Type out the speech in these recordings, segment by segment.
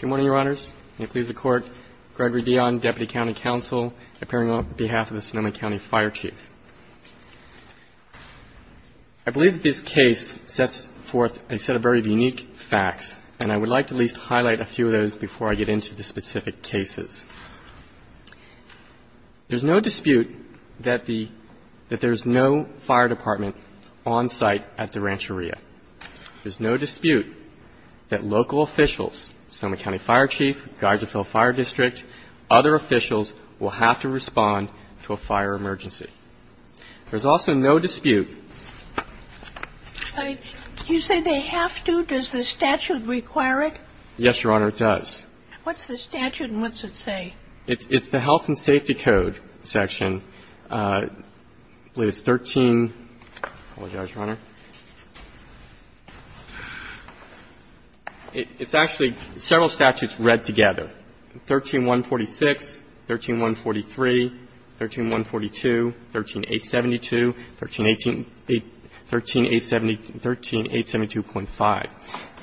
Good morning, Your Honors. May it please the Court, Gregory Dion, Deputy County Counsel, appearing on behalf of the Sonoma County Fire Chief. I believe that this case sets forth a set of very unique facts, and I would like to at least highlight a few of those before I get into the specific cases. There's no dispute that there's no fire department on site at the rancheria. There's no dispute that local officials, Sonoma County Fire Chief, Geislerville Fire District, other officials will have to respond to a fire emergency. There's also no dispute. Do you say they have to? Does the statute require it? Yes, Your Honor, it does. What's the statute and what's it say? It's the Health and Safety Code section. I believe it's 13. I apologize, Your Honor. It's actually several statutes read together. 13-146, 13-143, 13-142, 13-872, 13-872.5.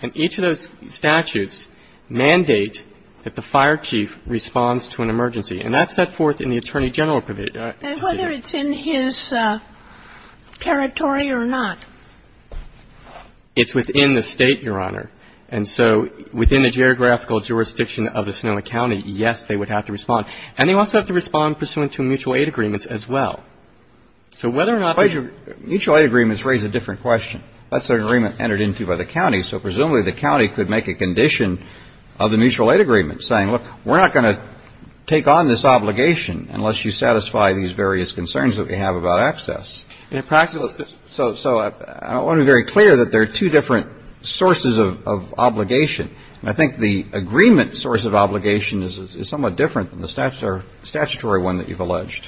And each of those statutes mandate that the fire chief responds to an emergency. And that's set forth in the Attorney General procedure. And whether it's in his territory or not? It's within the State, Your Honor. And so within the geographical jurisdiction of the Sonoma County, yes, they would have to respond. And they also have to respond pursuant to mutual aid agreements as well. So whether or not they ---- Mutual aid agreements raise a different question. That's an agreement entered into by the county. So presumably the county could make a condition of the mutual aid agreement saying, look, we're not going to take on this obligation unless you satisfy these various concerns that we have about access. In practice ---- So I want to be very clear that there are two different sources of obligation. And I think the agreement source of obligation is somewhat different than the statutory one that you've alleged.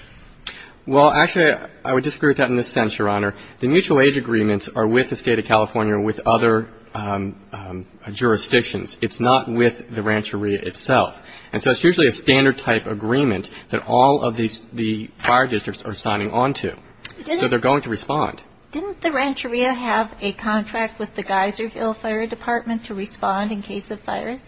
Well, actually, I would disagree with that in this sense, Your Honor. The mutual aid agreements are with the State of California, with other jurisdictions. It's not with the Rancheria itself. And so it's usually a standard type agreement that all of the fire districts are signing on to. So they're going to respond. Didn't the Rancheria have a contract with the Geyserville Fire Department to respond in case of fires?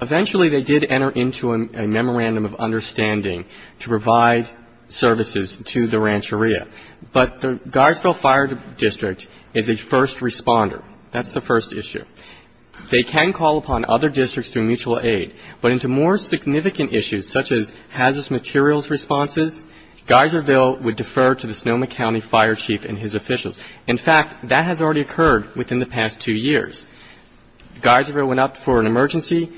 Eventually they did enter into a memorandum of understanding to provide services to the Rancheria. But the Geyserville Fire District is a first responder. That's the first issue. They can call upon other districts through mutual aid. But into more significant issues such as hazardous materials responses, Geyserville would defer to the Sonoma County Fire Chief and his officials. In fact, that has already occurred within the past two years. Geyserville went up for an emergency,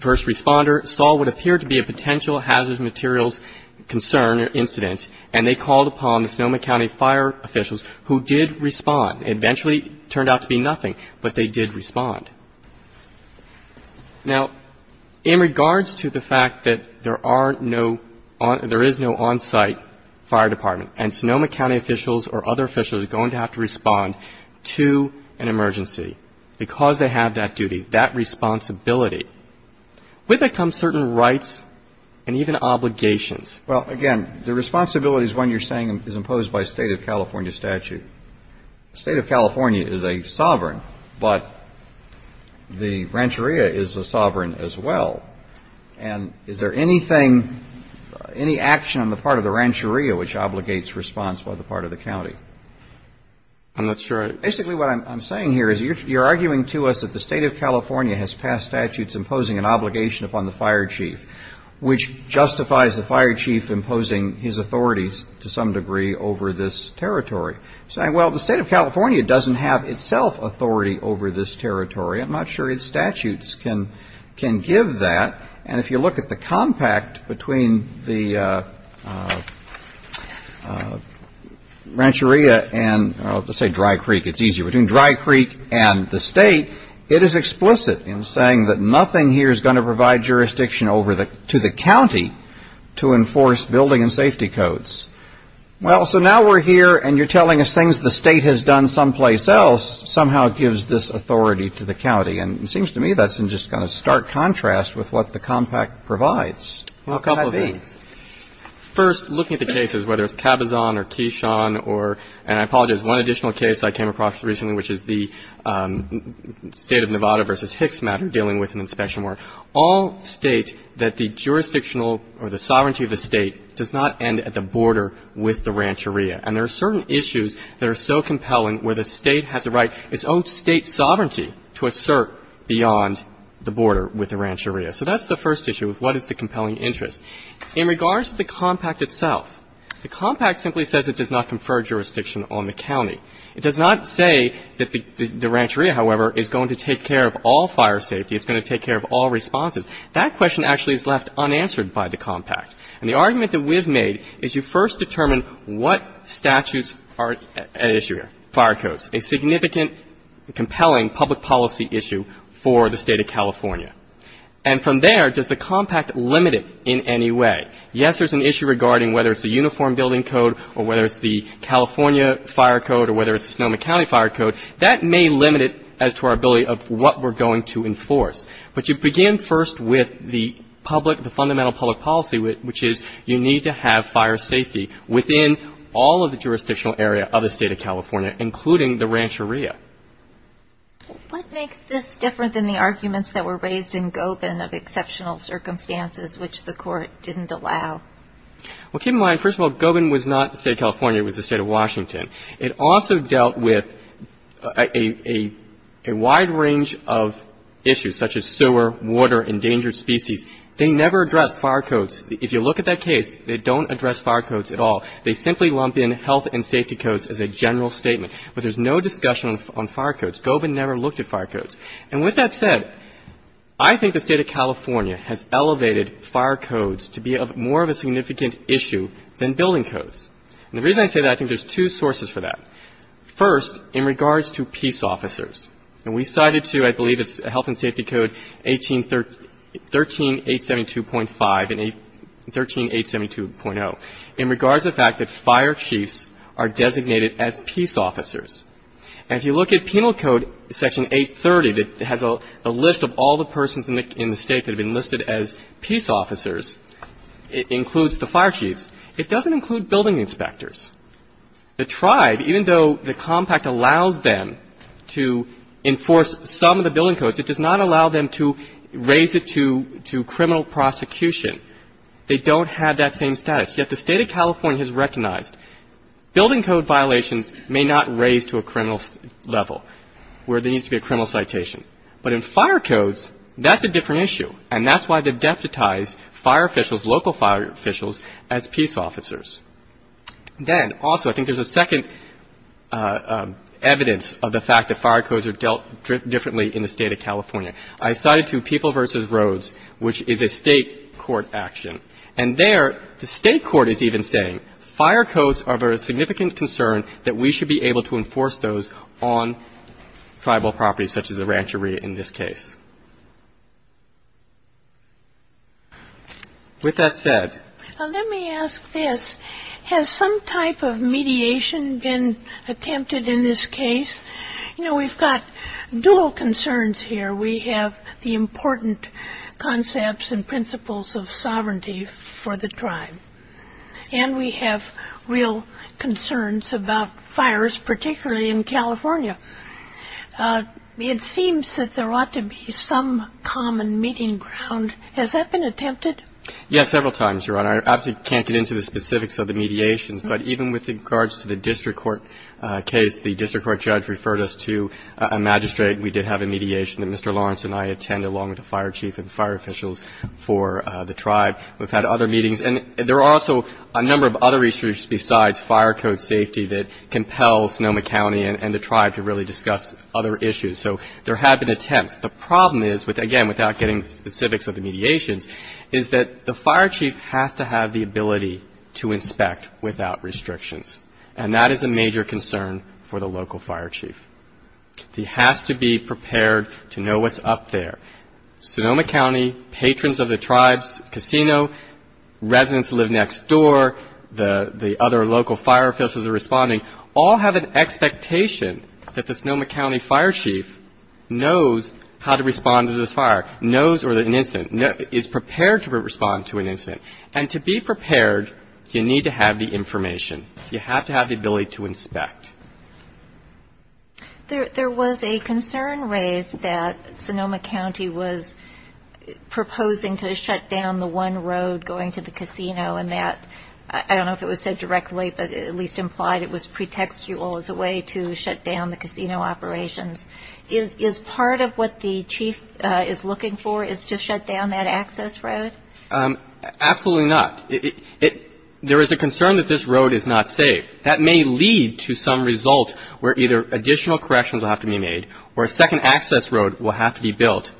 first responder. Saw what appeared to be a potential hazardous materials concern or incident, and they called upon the Sonoma County fire officials who did respond. It eventually turned out to be nothing, but they did respond. Now, in regards to the fact that there is no on-site fire department and Sonoma County officials or other officials are going to have to respond to an emergency because they have that duty, that responsibility, with it comes certain rights and even obligations. Well, again, the responsibility is one you're saying is imposed by State of California statute. State of California is a sovereign, but the Rancheria is a sovereign as well. And is there anything, any action on the part of the Rancheria which obligates response by the part of the county? I'm not sure. Basically, what I'm saying here is you're arguing to us that the State of California has passed statutes imposing an obligation upon the fire chief, which justifies the fire chief imposing his authorities to some degree over this territory. You're saying, well, the State of California doesn't have itself authority over this territory. I'm not sure its statutes can give that. And if you look at the compact between the Rancheria and, let's say Dry Creek, it's easier, between Dry Creek and the State, it is explicit in saying that nothing here is going to provide jurisdiction over to the county to enforce building and safety codes. Well, so now we're here and you're telling us things the State has done someplace else somehow gives this authority to the county. And it seems to me that's in just kind of stark contrast with what the compact provides. How can that be? Well, a couple of things. First, looking at the cases, whether it's Cabazon or Quichon or, and I apologize, one additional case I came across recently, which is the State of Nevada versus Hicks matter, dealing with an inspection war, all state that the jurisdictional or the sovereignty of the State does not end at the border with the Rancheria. It's owned State sovereignty to assert beyond the border with the Rancheria. So that's the first issue of what is the compelling interest. In regards to the compact itself, the compact simply says it does not confer jurisdiction on the county. It does not say that the Rancheria, however, is going to take care of all fire safety, it's going to take care of all responses. That question actually is left unanswered by the compact. And the argument that we've made is you first determine what statutes are at issue here, fire codes, a significant compelling public policy issue for the State of California. And from there, does the compact limit it in any way? Yes, there's an issue regarding whether it's a uniform building code or whether it's the California fire code or whether it's the Sonoma County fire code. That may limit it as to our ability of what we're going to enforce. But you begin first with the public, the fundamental public policy, which is you need to have fire safety within all of the jurisdictional area of the State of California, including the Rancheria. What makes this different than the arguments that were raised in Gobin of exceptional circumstances, which the Court didn't allow? Well, keep in mind, first of all, Gobin was not the State of California. It was the State of Washington. It also dealt with a wide range of issues, such as sewer, water, endangered species. They never addressed fire codes. If you look at that case, they don't address fire codes at all. They simply lump in health and safety codes as a general statement. But there's no discussion on fire codes. Gobin never looked at fire codes. And with that said, I think the State of California has elevated fire codes to be more of a significant issue than building codes. And the reason I say that, I think there's two sources for that. First, in regards to peace officers. And we cited to, I believe it's health and safety code 13872.5 and 13872.0. In regards to the fact that fire chiefs are designated as peace officers. And if you look at Penal Code Section 830 that has a list of all the persons in the State that have been listed as peace officers, it includes the fire chiefs. It doesn't include building inspectors. The tribe, even though the compact allows them to enforce some of the building codes, it does not allow them to raise it to criminal prosecution. They don't have that same status. Yet the State of California has recognized building code violations may not raise to a criminal level where there needs to be a criminal citation. But in fire codes, that's a different issue. And that's why they've deputized fire officials, local fire officials, as peace officers. Then, also, I think there's a second evidence of the fact that fire codes are dealt differently in the State of California. I cited to People v. Rhodes, which is a State court action. And there, the State court is even saying, fire codes are of a significant concern that we should be able to enforce those on tribal properties, such as the rancheria in this case. With that said. Now, let me ask this. Has some type of mediation been attempted in this case? You know, we've got dual concerns here. We have the important concepts and principles of sovereignty for the tribe. And we have real concerns about fires, particularly in California. It seems that there ought to be some common meeting ground. Has that been attempted? Yes, several times, Your Honor. I obviously can't get into the specifics of the mediations. But even with regards to the district court case, the district court judge referred us to a magistrate. We did have a mediation that Mr. Lawrence and I attended, along with the fire chief and fire officials for the tribe. We've had other meetings. And there are also a number of other issues besides fire code safety that compels Sonoma County and the tribe to really discuss other issues. So there have been attempts. The problem is, again, without getting into the specifics of the mediations, is that the fire chief has to have the ability to inspect without restrictions. And that is a major concern for the local fire chief. He has to be prepared to know what's up there. Sonoma County, patrons of the tribe's casino, residents who live next door, the other local fire officials who are responding, all have an expectation that the Sonoma County fire chief knows how to respond to this fire, knows or is prepared to respond to an incident. And to be prepared, you need to have the information. You have to have the ability to inspect. There was a concern raised that Sonoma County was proposing to shut down the one road going to the casino, and that, I don't know if it was said directly, but at least implied it was pretextual as a way to shut down the casino operations. Is part of what the chief is looking for is to shut down that access road? Absolutely not. There is a concern that this road is not safe. That may lead to some result where either additional corrections will have to be made or a second access road will have to be built.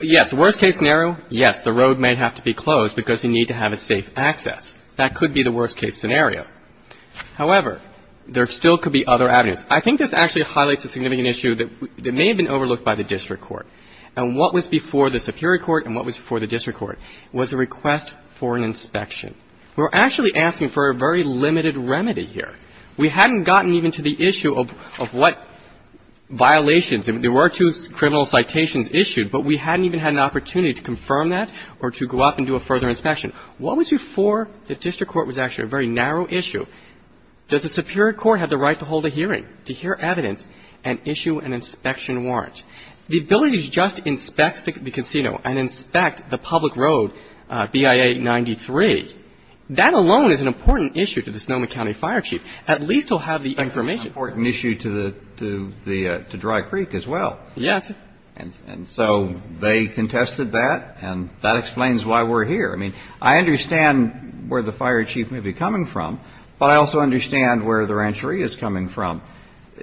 Yes, the worst case scenario, yes, the road may have to be closed because you need to have a safe access. That could be the worst case scenario. However, there still could be other avenues. I think this actually highlights a significant issue that may have been overlooked by the district court. And what was before the superior court and what was before the district court was a request for an inspection. We're actually asking for a very limited remedy here. We hadn't gotten even to the issue of what violations. There were two criminal citations issued, but we hadn't even had an opportunity to confirm that or to go up and do a further inspection. What was before the district court was actually a very narrow issue? Does the superior court have the right to hold a hearing, to hear evidence and issue an inspection warrant? The ability to just inspect the casino and inspect the public road, BIA 93, that alone is an important issue to the Sonoma County fire chief. At least he'll have the information. That's an important issue to Dry Creek as well. Yes. And so they contested that, and that explains why we're here. I mean, I understand where the fire chief may be coming from, but I also understand where the ranchery is coming from.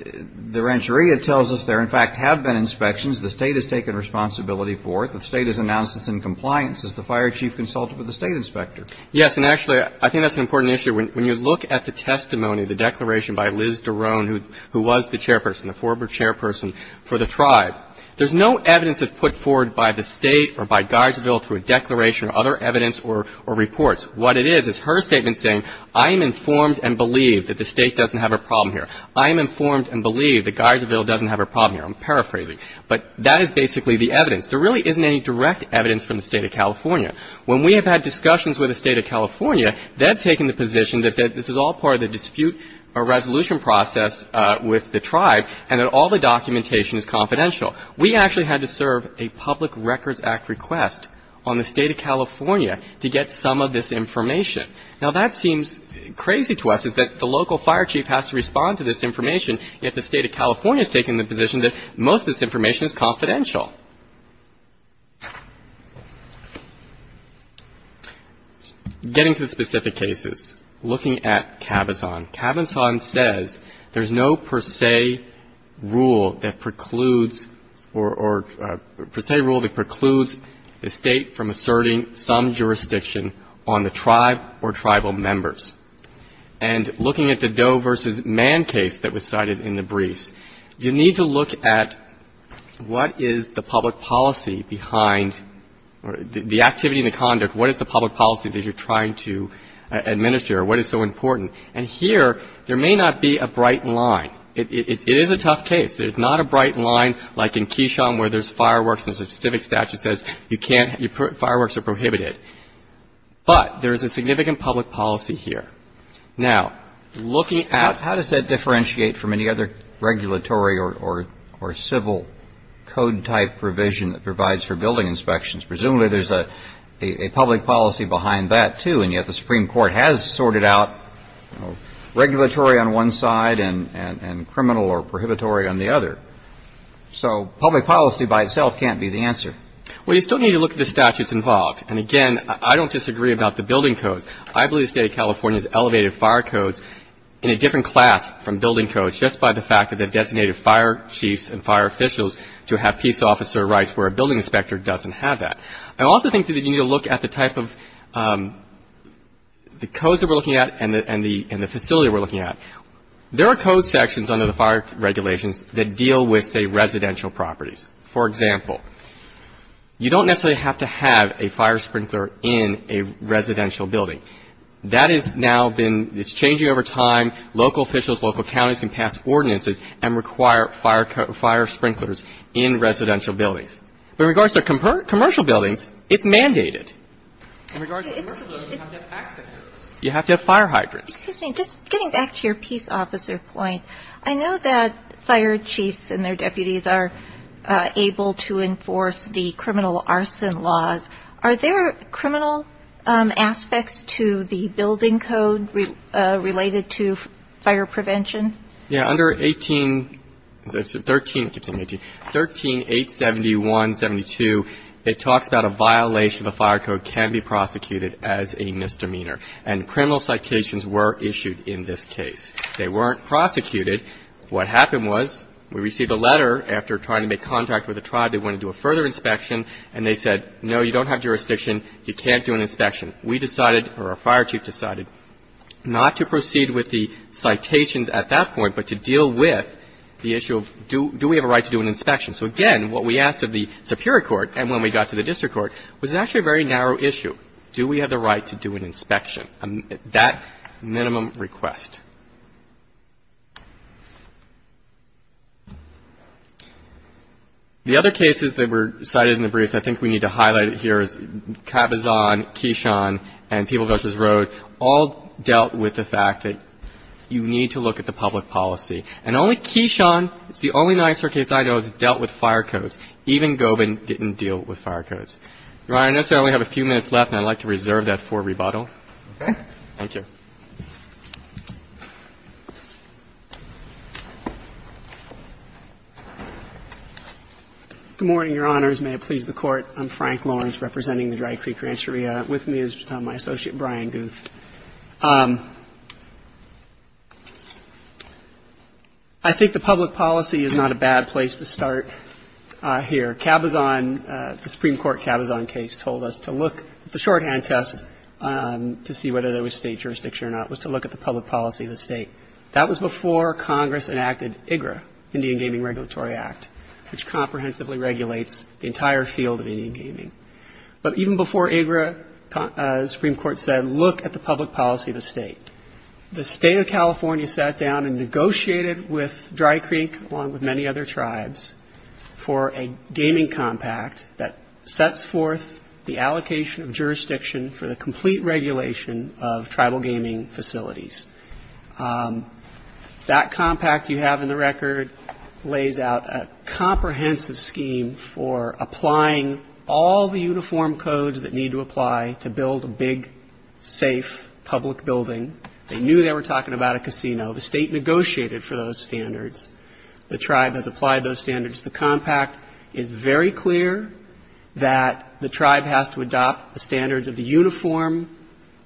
The rancheria tells us there, in fact, have been inspections. The State has taken responsibility for it. The State has announced it's in compliance as the fire chief consulted with the State inspector. Yes. And actually, I think that's an important issue. When you look at the testimony, the declaration by Liz Dorone, who was the chairperson, the former chairperson for the tribe, there's no evidence that's put forward by the State or by Guidesville through a declaration or other evidence or reports. What it is is her statement saying, I am informed and believe that the State doesn't have a problem here. I am informed and believe that Guidesville doesn't have a problem here. I'm paraphrasing. But that is basically the evidence. There really isn't any direct evidence from the State of California. When we have had discussions with the State of California, they've taken the position that this is all part of the dispute or resolution process with the tribe and that all the documentation is confidential. We actually had to serve a Public Records Act request on the State of California to get some of this information. Now, that seems crazy to us, is that the local fire chief has to respond to this information, yet the State of California has taken the position that most of this information is confidential. Getting to the specific cases, looking at Cabazon. Cabazon says there's no per se rule that precludes or per se rule that precludes the State from asserting some jurisdiction on the tribe or tribal members. And looking at the Doe v. Mann case that was cited in the briefs, you need to look at what is the public policy behind the activity and the conduct. What is the public policy that you're trying to administer? What is so important? And here, there may not be a bright line. It is a tough case. There's not a bright line like in Keyshawn where there's fireworks and there's a civic statute that says fireworks are prohibited. But there is a significant public policy here. Now, looking at- How does that differentiate from any other regulatory or civil code type provision that provides for building inspections? Presumably there's a public policy behind that, too, and yet the Supreme Court has sorted out regulatory on one side and criminal or prohibitory on the other. So public policy by itself can't be the answer. Well, you still need to look at the statutes involved. And again, I don't disagree about the building codes. I believe the State of California has elevated fire codes in a different class from building codes just by the fact that they've designated fire chiefs and fire officials to have peace officer rights where a building inspector doesn't have that. I also think that you need to look at the type of the codes that we're looking at and the facility we're looking at. There are code sections under the fire regulations that deal with, say, residential properties. For example, you don't necessarily have to have a fire sprinkler in a residential building. That has now been ‑‑ it's changing over time. Local officials, local counties can pass ordinances and require fire sprinklers in residential buildings. But in regards to commercial buildings, it's mandated. In regards to commercial buildings, you have to have access to those. You have to have fire hydrants. Excuse me. Just getting back to your peace officer point, I know that fire chiefs and their deputies are able to enforce the criminal arson laws. Are there criminal aspects to the building code related to fire prevention? Yeah. Under 13‑‑ I keep saying 18. 13.871.72, it talks about a violation of a fire code can be prosecuted as a misdemeanor. And criminal citations were issued in this case. They weren't prosecuted. What happened was we received a letter after trying to make contact with a tribe. They wanted to do a further inspection. And they said, no, you don't have jurisdiction. You can't do an inspection. We decided, or our fire chief decided, not to proceed with the citations at that point, but to deal with the issue of do we have a right to do an inspection. So, again, what we asked of the superior court, and when we got to the district court, was actually a very narrow issue. Do we have the right to do an inspection? That minimum request. The other cases that were cited in the briefs, I think we need to highlight it here, is Cabazon, Keishon, and People Vs. Road all dealt with the fact that you need to look at the public policy. And only Keishon, it's the only NYSERC case I know, has dealt with fire codes. Even Gobin didn't deal with fire codes. Your Honor, I know we only have a few minutes left, and I'd like to reserve that for rebuttal. Okay. Thank you. Good morning, Your Honors. May it please the Court. I'm Frank Lawrence, representing the Dry Creek Rancheria. With me is my associate, Brian Guth. I think the public policy is not a bad place to start here. The Supreme Court Cabazon case told us to look at the shorthand test to see whether there was state jurisdiction or not, was to look at the public policy of the state. That was before Congress enacted IGRA, Indian Gaming Regulatory Act, which comprehensively regulates the entire field of Indian gaming. But even before IGRA, the Supreme Court said, look at the public policy of the state. The State of California sat down and negotiated with Dry Creek, along with many other tribes, for a gaming compact that sets forth the allocation of jurisdiction for the complete regulation of tribal gaming facilities. That compact you have in the record lays out a comprehensive scheme for applying all the uniform codes that need to apply to build a big, safe, public building. They knew they were talking about a casino. The state negotiated for those standards. The tribe has applied those standards. The compact is very clear that the tribe has to adopt the standards of the uniform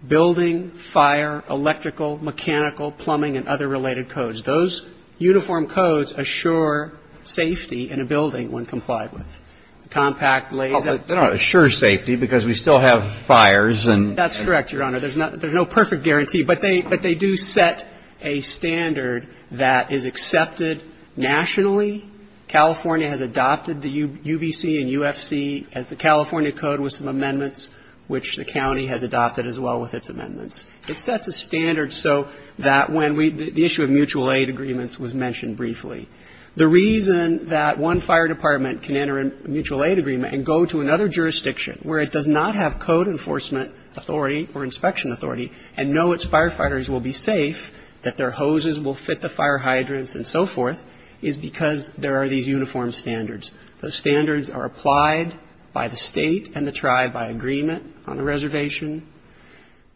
building, fire, electrical, mechanical, plumbing, and other related codes. Those uniform codes assure safety in a building when complied with. The compact lays out the standards. Breyer. They don't assure safety because we still have fires and so forth. That's correct, Your Honor. There's no perfect guarantee. But they do set a standard that is accepted nationally. California has adopted the UBC and UFC, the California Code, with some amendments, which the county has adopted as well with its amendments. It sets a standard so that when we the issue of mutual aid agreements was mentioned briefly. The reason that one fire department can enter a mutual aid agreement and go to another jurisdiction where it does not have code enforcement authority or inspection authority and know its firefighters will be safe, that their hoses will fit the fire hydrants and so forth, is because there are these uniform standards. Those standards are applied by the state and the tribe by agreement on the reservation.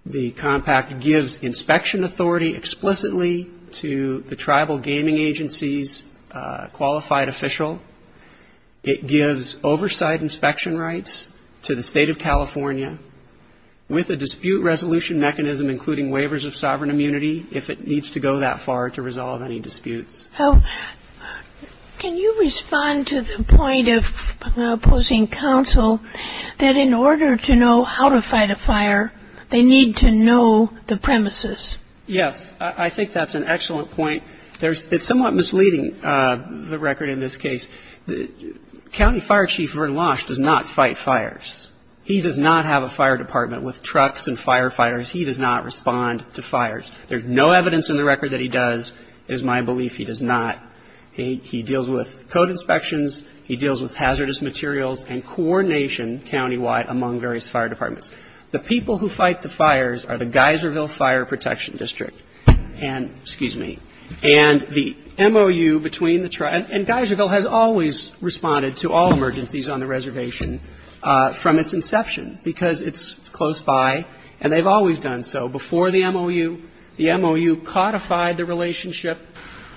The compact gives inspection authority explicitly to the tribal gaming agency's qualified official. It gives oversight inspection rights to the State of California with a dispute resolution mechanism, including waivers of sovereign immunity if it needs to go that far to resolve any disputes. Can you respond to the point of opposing counsel that in order to know how to fight a fire, they need to know the premises? Yes, I think that's an excellent point. It's somewhat misleading, the record in this case. County Fire Chief Vern Losh does not fight fires. He does not have a fire department with trucks and firefighters. He does not respond to fires. There's no evidence in the record that he does. It is my belief he does not. He deals with code inspections. He deals with hazardous materials and coordination countywide among various fire departments. The people who fight the fires are the Geyserville Fire Protection District and, excuse me, and the MOU between the tribe and Geyserville has always responded to all emergencies on the reservation from its inception because it's close by and they've always done so. Before the MOU, the MOU codified the relationship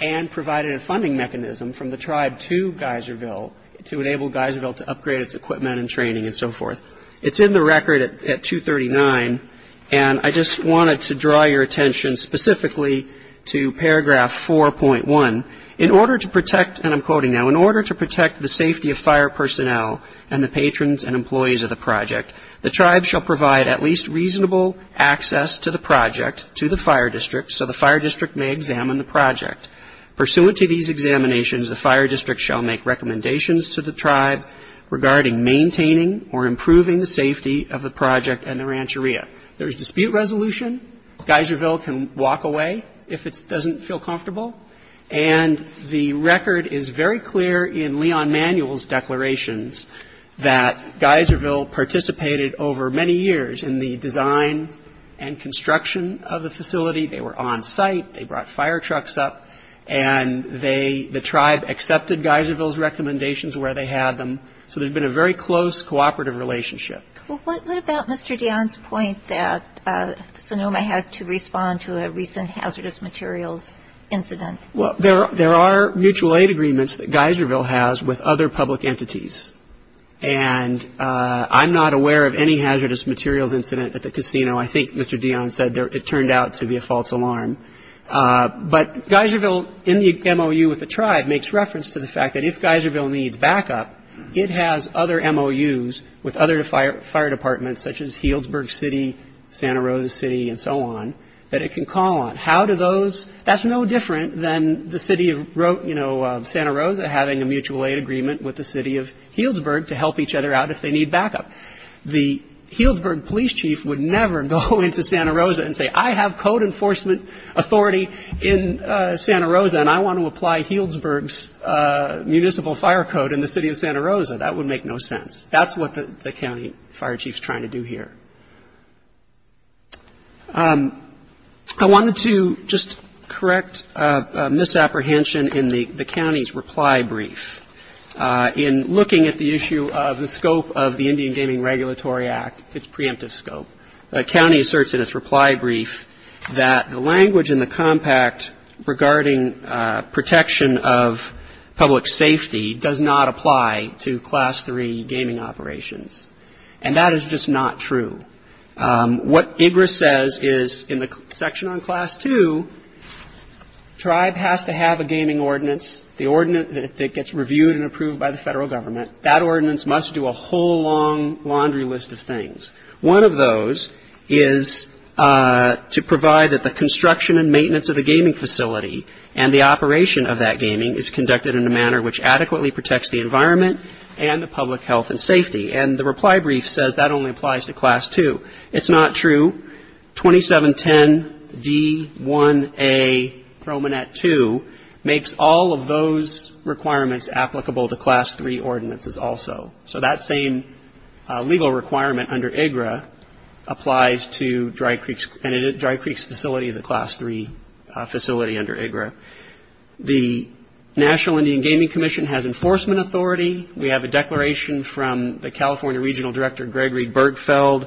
and provided a funding mechanism from the tribe to Geyserville to enable Geyserville to upgrade its equipment and training and so forth. It's in the record at 239, and I just wanted to draw your attention specifically to paragraph 4.1. In order to protect, and I'm quoting now, in order to protect the safety of fire personnel and the patrons and employees of the project, the tribe shall provide at least reasonable access to the project to the fire district so the fire district may examine the project. Pursuant to these examinations, the fire district shall make recommendations to the tribe regarding maintaining or improving the safety of the project and the rancheria. There's dispute resolution. Geyserville can walk away if it doesn't feel comfortable, and the record is very clear in Leon Manuel's declarations that Geyserville participated over many years in the design and construction of the facility. They were on site. So there's been a very close cooperative relationship. Well, what about Mr. Dionne's point that Sonoma had to respond to a recent hazardous materials incident? Well, there are mutual aid agreements that Geyserville has with other public entities, and I'm not aware of any hazardous materials incident at the casino. I think Mr. Dionne said it turned out to be a false alarm. But Geyserville, in the MOU with the tribe, makes reference to the fact that if Geyserville needs backup, it has other MOUs with other fire departments, such as Healdsburg City, Santa Rosa City, and so on, that it can call on. How do those? That's no different than the city of Santa Rosa having a mutual aid agreement with the city of Healdsburg to help each other out if they need backup. The Healdsburg police chief would never go into Santa Rosa and say, I have code enforcement authority in Santa Rosa, and I want to apply Healdsburg's municipal fire code in the city of Santa Rosa. That would make no sense. That's what the county fire chief is trying to do here. I wanted to just correct a misapprehension in the county's reply brief. In looking at the issue of the scope of the Indian Gaming Regulatory Act, its preemptive scope, the county asserts in its reply brief that the language in the compact regarding protection of public safety does not apply to Class III gaming operations. And that is just not true. What IGRA says is in the section on Class II, tribe has to have a gaming ordinance, the ordinance that gets reviewed and approved by the federal government. One of those is to provide that the construction and maintenance of a gaming facility and the operation of that gaming is conducted in a manner which adequately protects the environment and the public health and safety. And the reply brief says that only applies to Class II. It's not true. 2710 D1A Promenade 2 makes all of those requirements applicable to Class III ordinances also. So that same legal requirement under IGRA applies to Dry Creek's facility, the Class III facility under IGRA. The National Indian Gaming Commission has enforcement authority. We have a declaration from the California Regional Director, Gregory Bergfeld.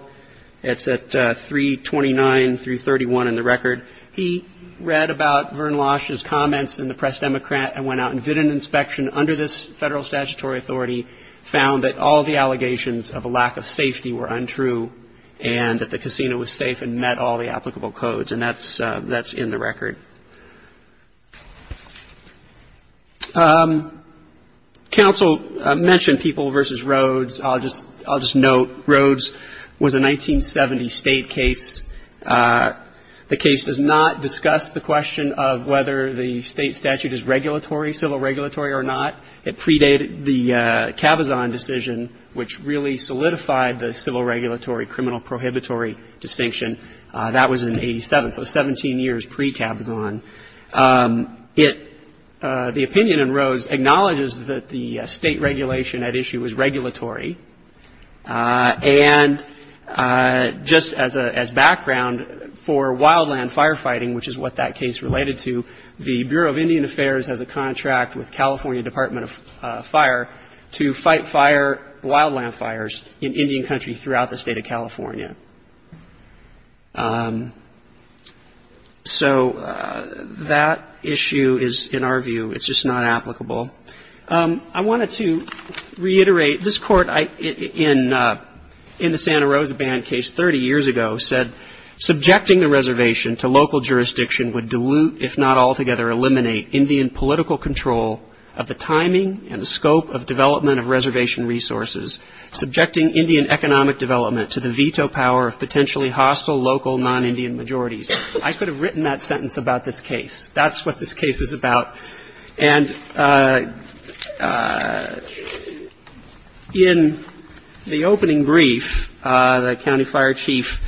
It's at 329 through 31 in the record. He read about Vern Losh's comments in the Press Democrat and went out and did an inspection and under this federal statutory authority found that all the allegations of a lack of safety were untrue and that the casino was safe and met all the applicable codes. And that's in the record. Counsel mentioned People v. Rhodes. I'll just note Rhodes was a 1970 state case. The case does not discuss the question of whether the state statute is regulatory, civil regulatory or not. It predated the Cabazon decision which really solidified the civil regulatory criminal prohibitory distinction. That was in 87, so 17 years pre-Cabazon. The opinion in Rhodes acknowledges that the state regulation at issue was regulatory. And just as background for wildland firefighting, which is what that case related to, the Bureau of Indian Affairs has a contract with California Department of Fire to fight fire, wildland fires in Indian Country throughout the State of California. So that issue is, in our view, it's just not applicable. I wanted to reiterate, this Court in the Santa Rosa Band case 30 years ago said, Subjecting the reservation to local jurisdiction would dilute, if not altogether eliminate, Indian political control of the timing and the scope of development of reservation resources. Subjecting Indian economic development to the veto power of potentially hostile local non-Indian majorities. I could have written that sentence about this case. That's what this case is about. And in the opening brief, the County Fire Chief,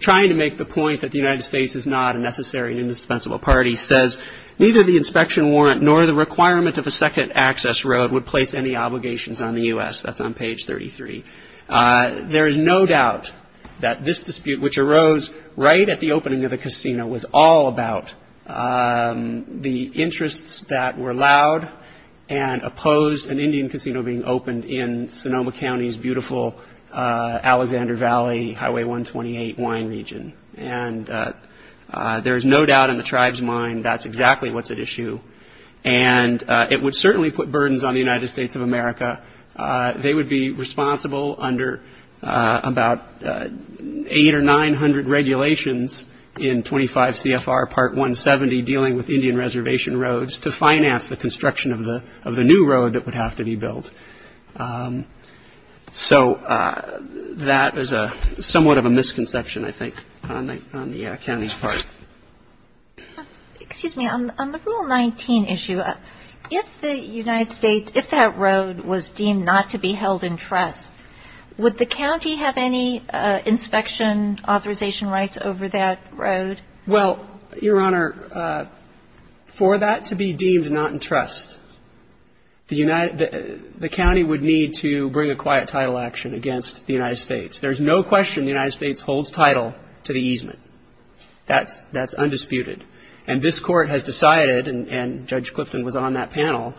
trying to make the point that the United States is not a necessary and indispensable party, says, Neither the inspection warrant nor the requirement of a second access road would place any obligations on the U.S. That's on page 33. There is no doubt that this dispute, which arose right at the opening of the casino, was all about the interests that were allowed and opposed an Indian casino being opened in Sonoma County's beautiful Alexander Valley Highway 128 wine region. And there is no doubt in the tribe's mind that's exactly what's at issue. And it would certainly put burdens on the United States of America. They would be responsible under about 800 or 900 regulations in 25 CFR Part 170 dealing with Indian reservation roads to finance the construction of the new road that would have to be built. So that is somewhat of a misconception, I think, on the county's part. Excuse me. On the Rule 19 issue, if the United States, if that road was deemed not to be held in trust, would the county have any inspection authorization rights over that road? Well, Your Honor, for that to be deemed not in trust, the county would need to bring a quiet title action against the United States. There's no question the United States holds title to the easement. That's undisputed. And this court has decided, and Judge Clifton was on that panel,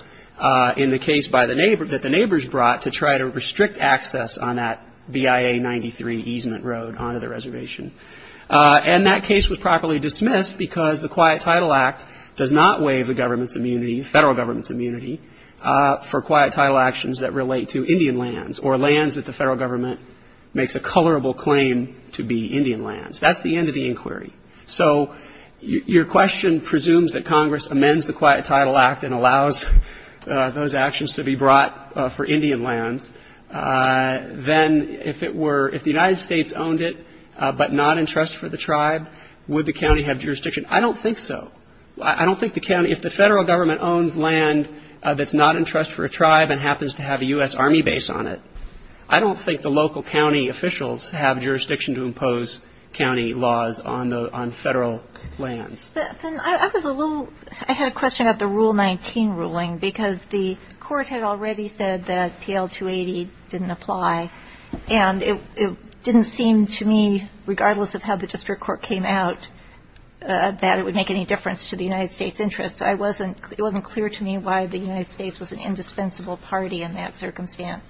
in the case that the neighbors brought to try to restrict access on that BIA 93 easement road onto the reservation. And that case was properly dismissed because the Quiet Title Act does not waive the government's immunity, federal government's immunity, for quiet title actions that relate to Indian lands or lands that the federal government makes a colorable claim to be Indian lands. That's the end of the inquiry. So your question presumes that Congress amends the Quiet Title Act and allows those actions to be brought for Indian lands. Then if it were, if the United States owned it but not in trust for the tribe, would the county have jurisdiction? I don't think so. I don't think the county, if the federal government owns land that's not in trust for a tribe and happens to have a U.S. Army base on it, I don't think the local county officials have jurisdiction to impose county laws on federal lands. I was a little, I had a question about the Rule 19 ruling because the court had already said that PL 280 didn't apply. And it didn't seem to me, regardless of how the district court came out, that it would make any difference to the United States' interests. It wasn't clear to me why the United States was an indispensable party in that circumstance.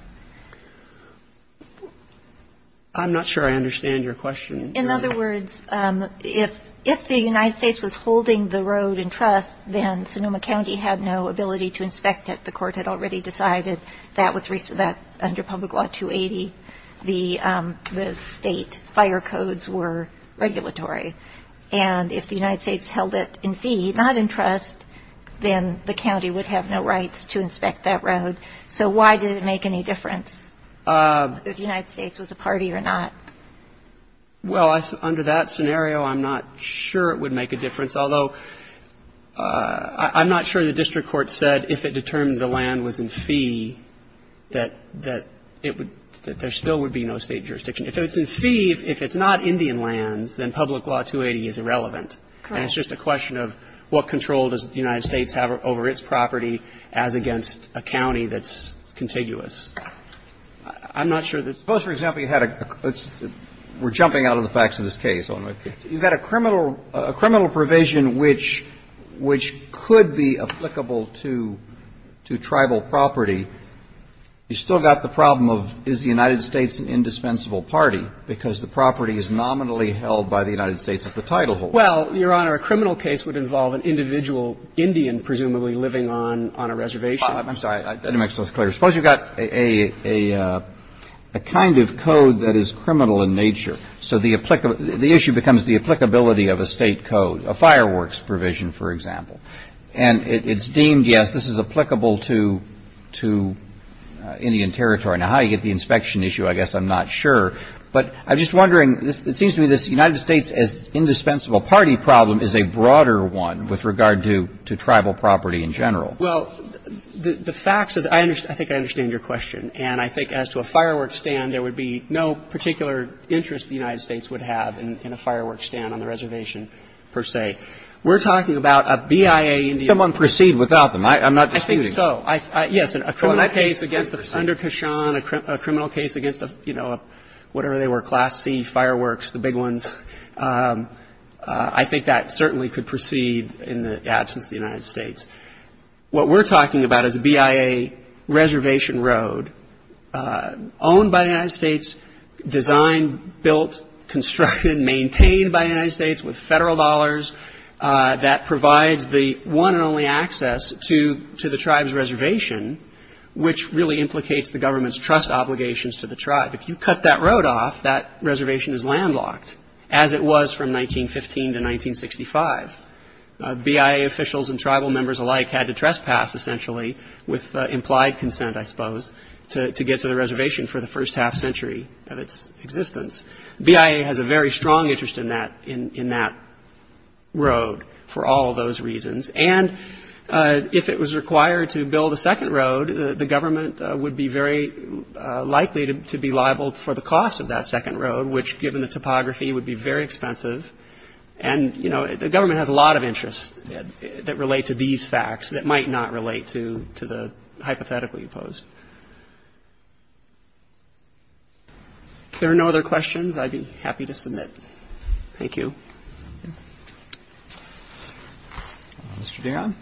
I'm not sure I understand your question. In other words, if the United States was holding the road in trust, then Sonoma County had no ability to inspect it. The court had already decided that under Public Law 280, the state fire codes were regulatory. And if the United States held it in fee, not in trust, then the county would have no rights to inspect that road. So why did it make any difference if the United States was a party or not? Well, under that scenario, I'm not sure it would make a difference. Although, I'm not sure the district court said if it determined the land was in fee that there still would be no state jurisdiction. If it's in fee, if it's not Indian lands, then Public Law 280 is irrelevant. And it's just a question of what control does the United States have over its property as against a county that's contiguous. I'm not sure that's the case. Suppose, for example, you had a – we're jumping out of the facts of this case. You've got a criminal – a criminal provision which could be applicable to tribal property. You've still got the problem of is the United States an indispensable party, because the property is nominally held by the United States as the titleholder. Well, Your Honor, a criminal case would involve an individual Indian presumably living on a reservation. I'm sorry. I didn't make myself clear. Suppose you've got a kind of code that is criminal in nature. So the issue becomes the applicability of a state code, a fireworks provision, for example. And it's deemed, yes, this is applicable to Indian territory. Now, how you get the inspection issue, I guess I'm not sure. But I'm just wondering, it seems to me this United States as indispensable party problem is a broader one with regard to tribal property in general. Well, the facts of the – I think I understand your question. And I think as to a fireworks stand, there would be no particular interest the United States would have in a fireworks stand on the reservation, per se. We're talking about a BIA Indian. Can someone proceed without them? I'm not disputing. I think so. Yes. A criminal case against the Sunder Kashan, a criminal case against the, you know, whatever they were, Class C fireworks, the big ones. I think that certainly could proceed in the absence of the United States. What we're talking about is a BIA reservation road owned by the United States, designed, built, constructed, maintained by the United States with federal dollars that provides the one and only access to the tribe's reservation, which really implicates the government's trust obligations to the tribe. If you cut that road off, that reservation is landlocked, as it was from 1915 to 1965. BIA officials and tribal members alike had to trespass, essentially, with implied consent, I suppose, to get to the reservation for the first half century of its existence. BIA has a very strong interest in that road for all of those reasons. And if it was required to build a second road, the government would be very likely to be liable for the cost of that second road, which, given the topography, would be very expensive. And, you know, the government has a lot of interests that relate to these facts that might not relate to the hypothetically opposed. If there are no other questions, I'd be happy to submit. Thank you. Mr. Dionne.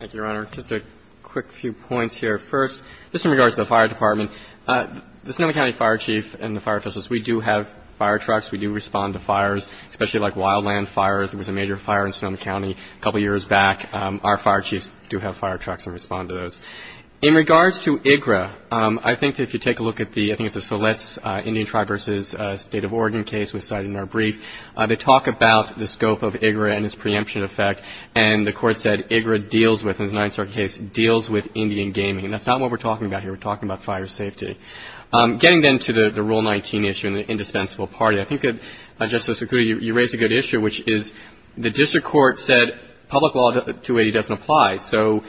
Thank you, Your Honor. Just a quick few points here. First, just in regards to the fire department, the Sonoma County Fire Chief and the fire officials, we do have fire trucks. We do respond to fires, especially like wildland fires. There was a major fire in Sonoma County a couple of years back. Our fire chiefs do have fire trucks and respond to those. In regards to IGRA, I think that if you take a look at the — I think it's the Solette Indian Tribe v. State of Oregon case we cited in our brief. They talk about the scope of IGRA and its preemption effect. And the court said IGRA deals with, in the Ninth Circuit case, deals with Indian gaming. And that's not what we're talking about here. We're talking about fire safety. Getting then to the Rule 19 issue and the indispensable party, I think, Justice Sercutti, you raised a good issue, which is the district court said public law 280 doesn't apply. So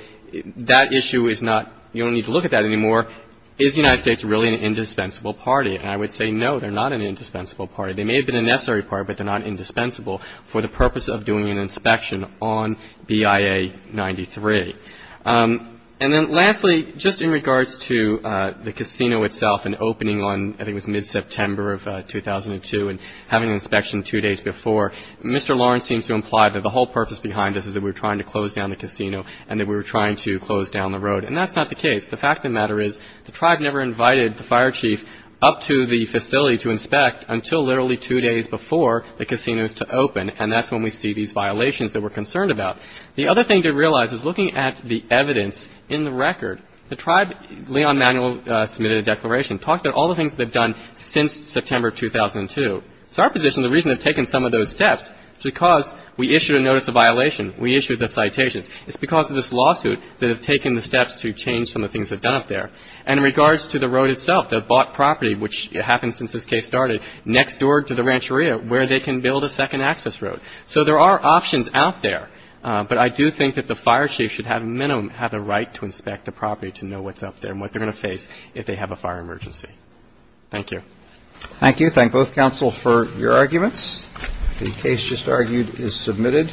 that issue is not — you don't need to look at that anymore. Is the United States really an indispensable party? And I would say no, they're not an indispensable party. They may have been a necessary party, but they're not indispensable for the purpose of doing an inspection on BIA 93. And then lastly, just in regards to the casino itself and opening on — I think it was mid-September of 2002 and having an inspection two days before, Mr. Lawrence seems to imply that the whole purpose behind this is that we're trying to close down the casino and that we're trying to close down the road. And that's not the case. The fact of the matter is the tribe never invited the fire chief up to the facility to inspect until literally two days before the casinos to open. And that's when we see these violations that we're concerned about. The other thing to realize is looking at the evidence in the record, the tribe, Leon Manuel submitted a declaration talking about all the things they've done since September 2002. So our position, the reason they've taken some of those steps is because we issued a notice of violation. We issued the citations. It's because of this lawsuit that have taken the steps to change some of the things they've done up there. And in regards to the road itself, the bought property, which happened since this case started, next door to the rancheria where they can build a second access road. So there are options out there, but I do think that the fire chief should have a minimum have the right to inspect the property to know what's up there and what they're going to face if they have a fire emergency. Thank you. Roberts. Thank you. Thank both counsel for your arguments. The case just argued is submitted.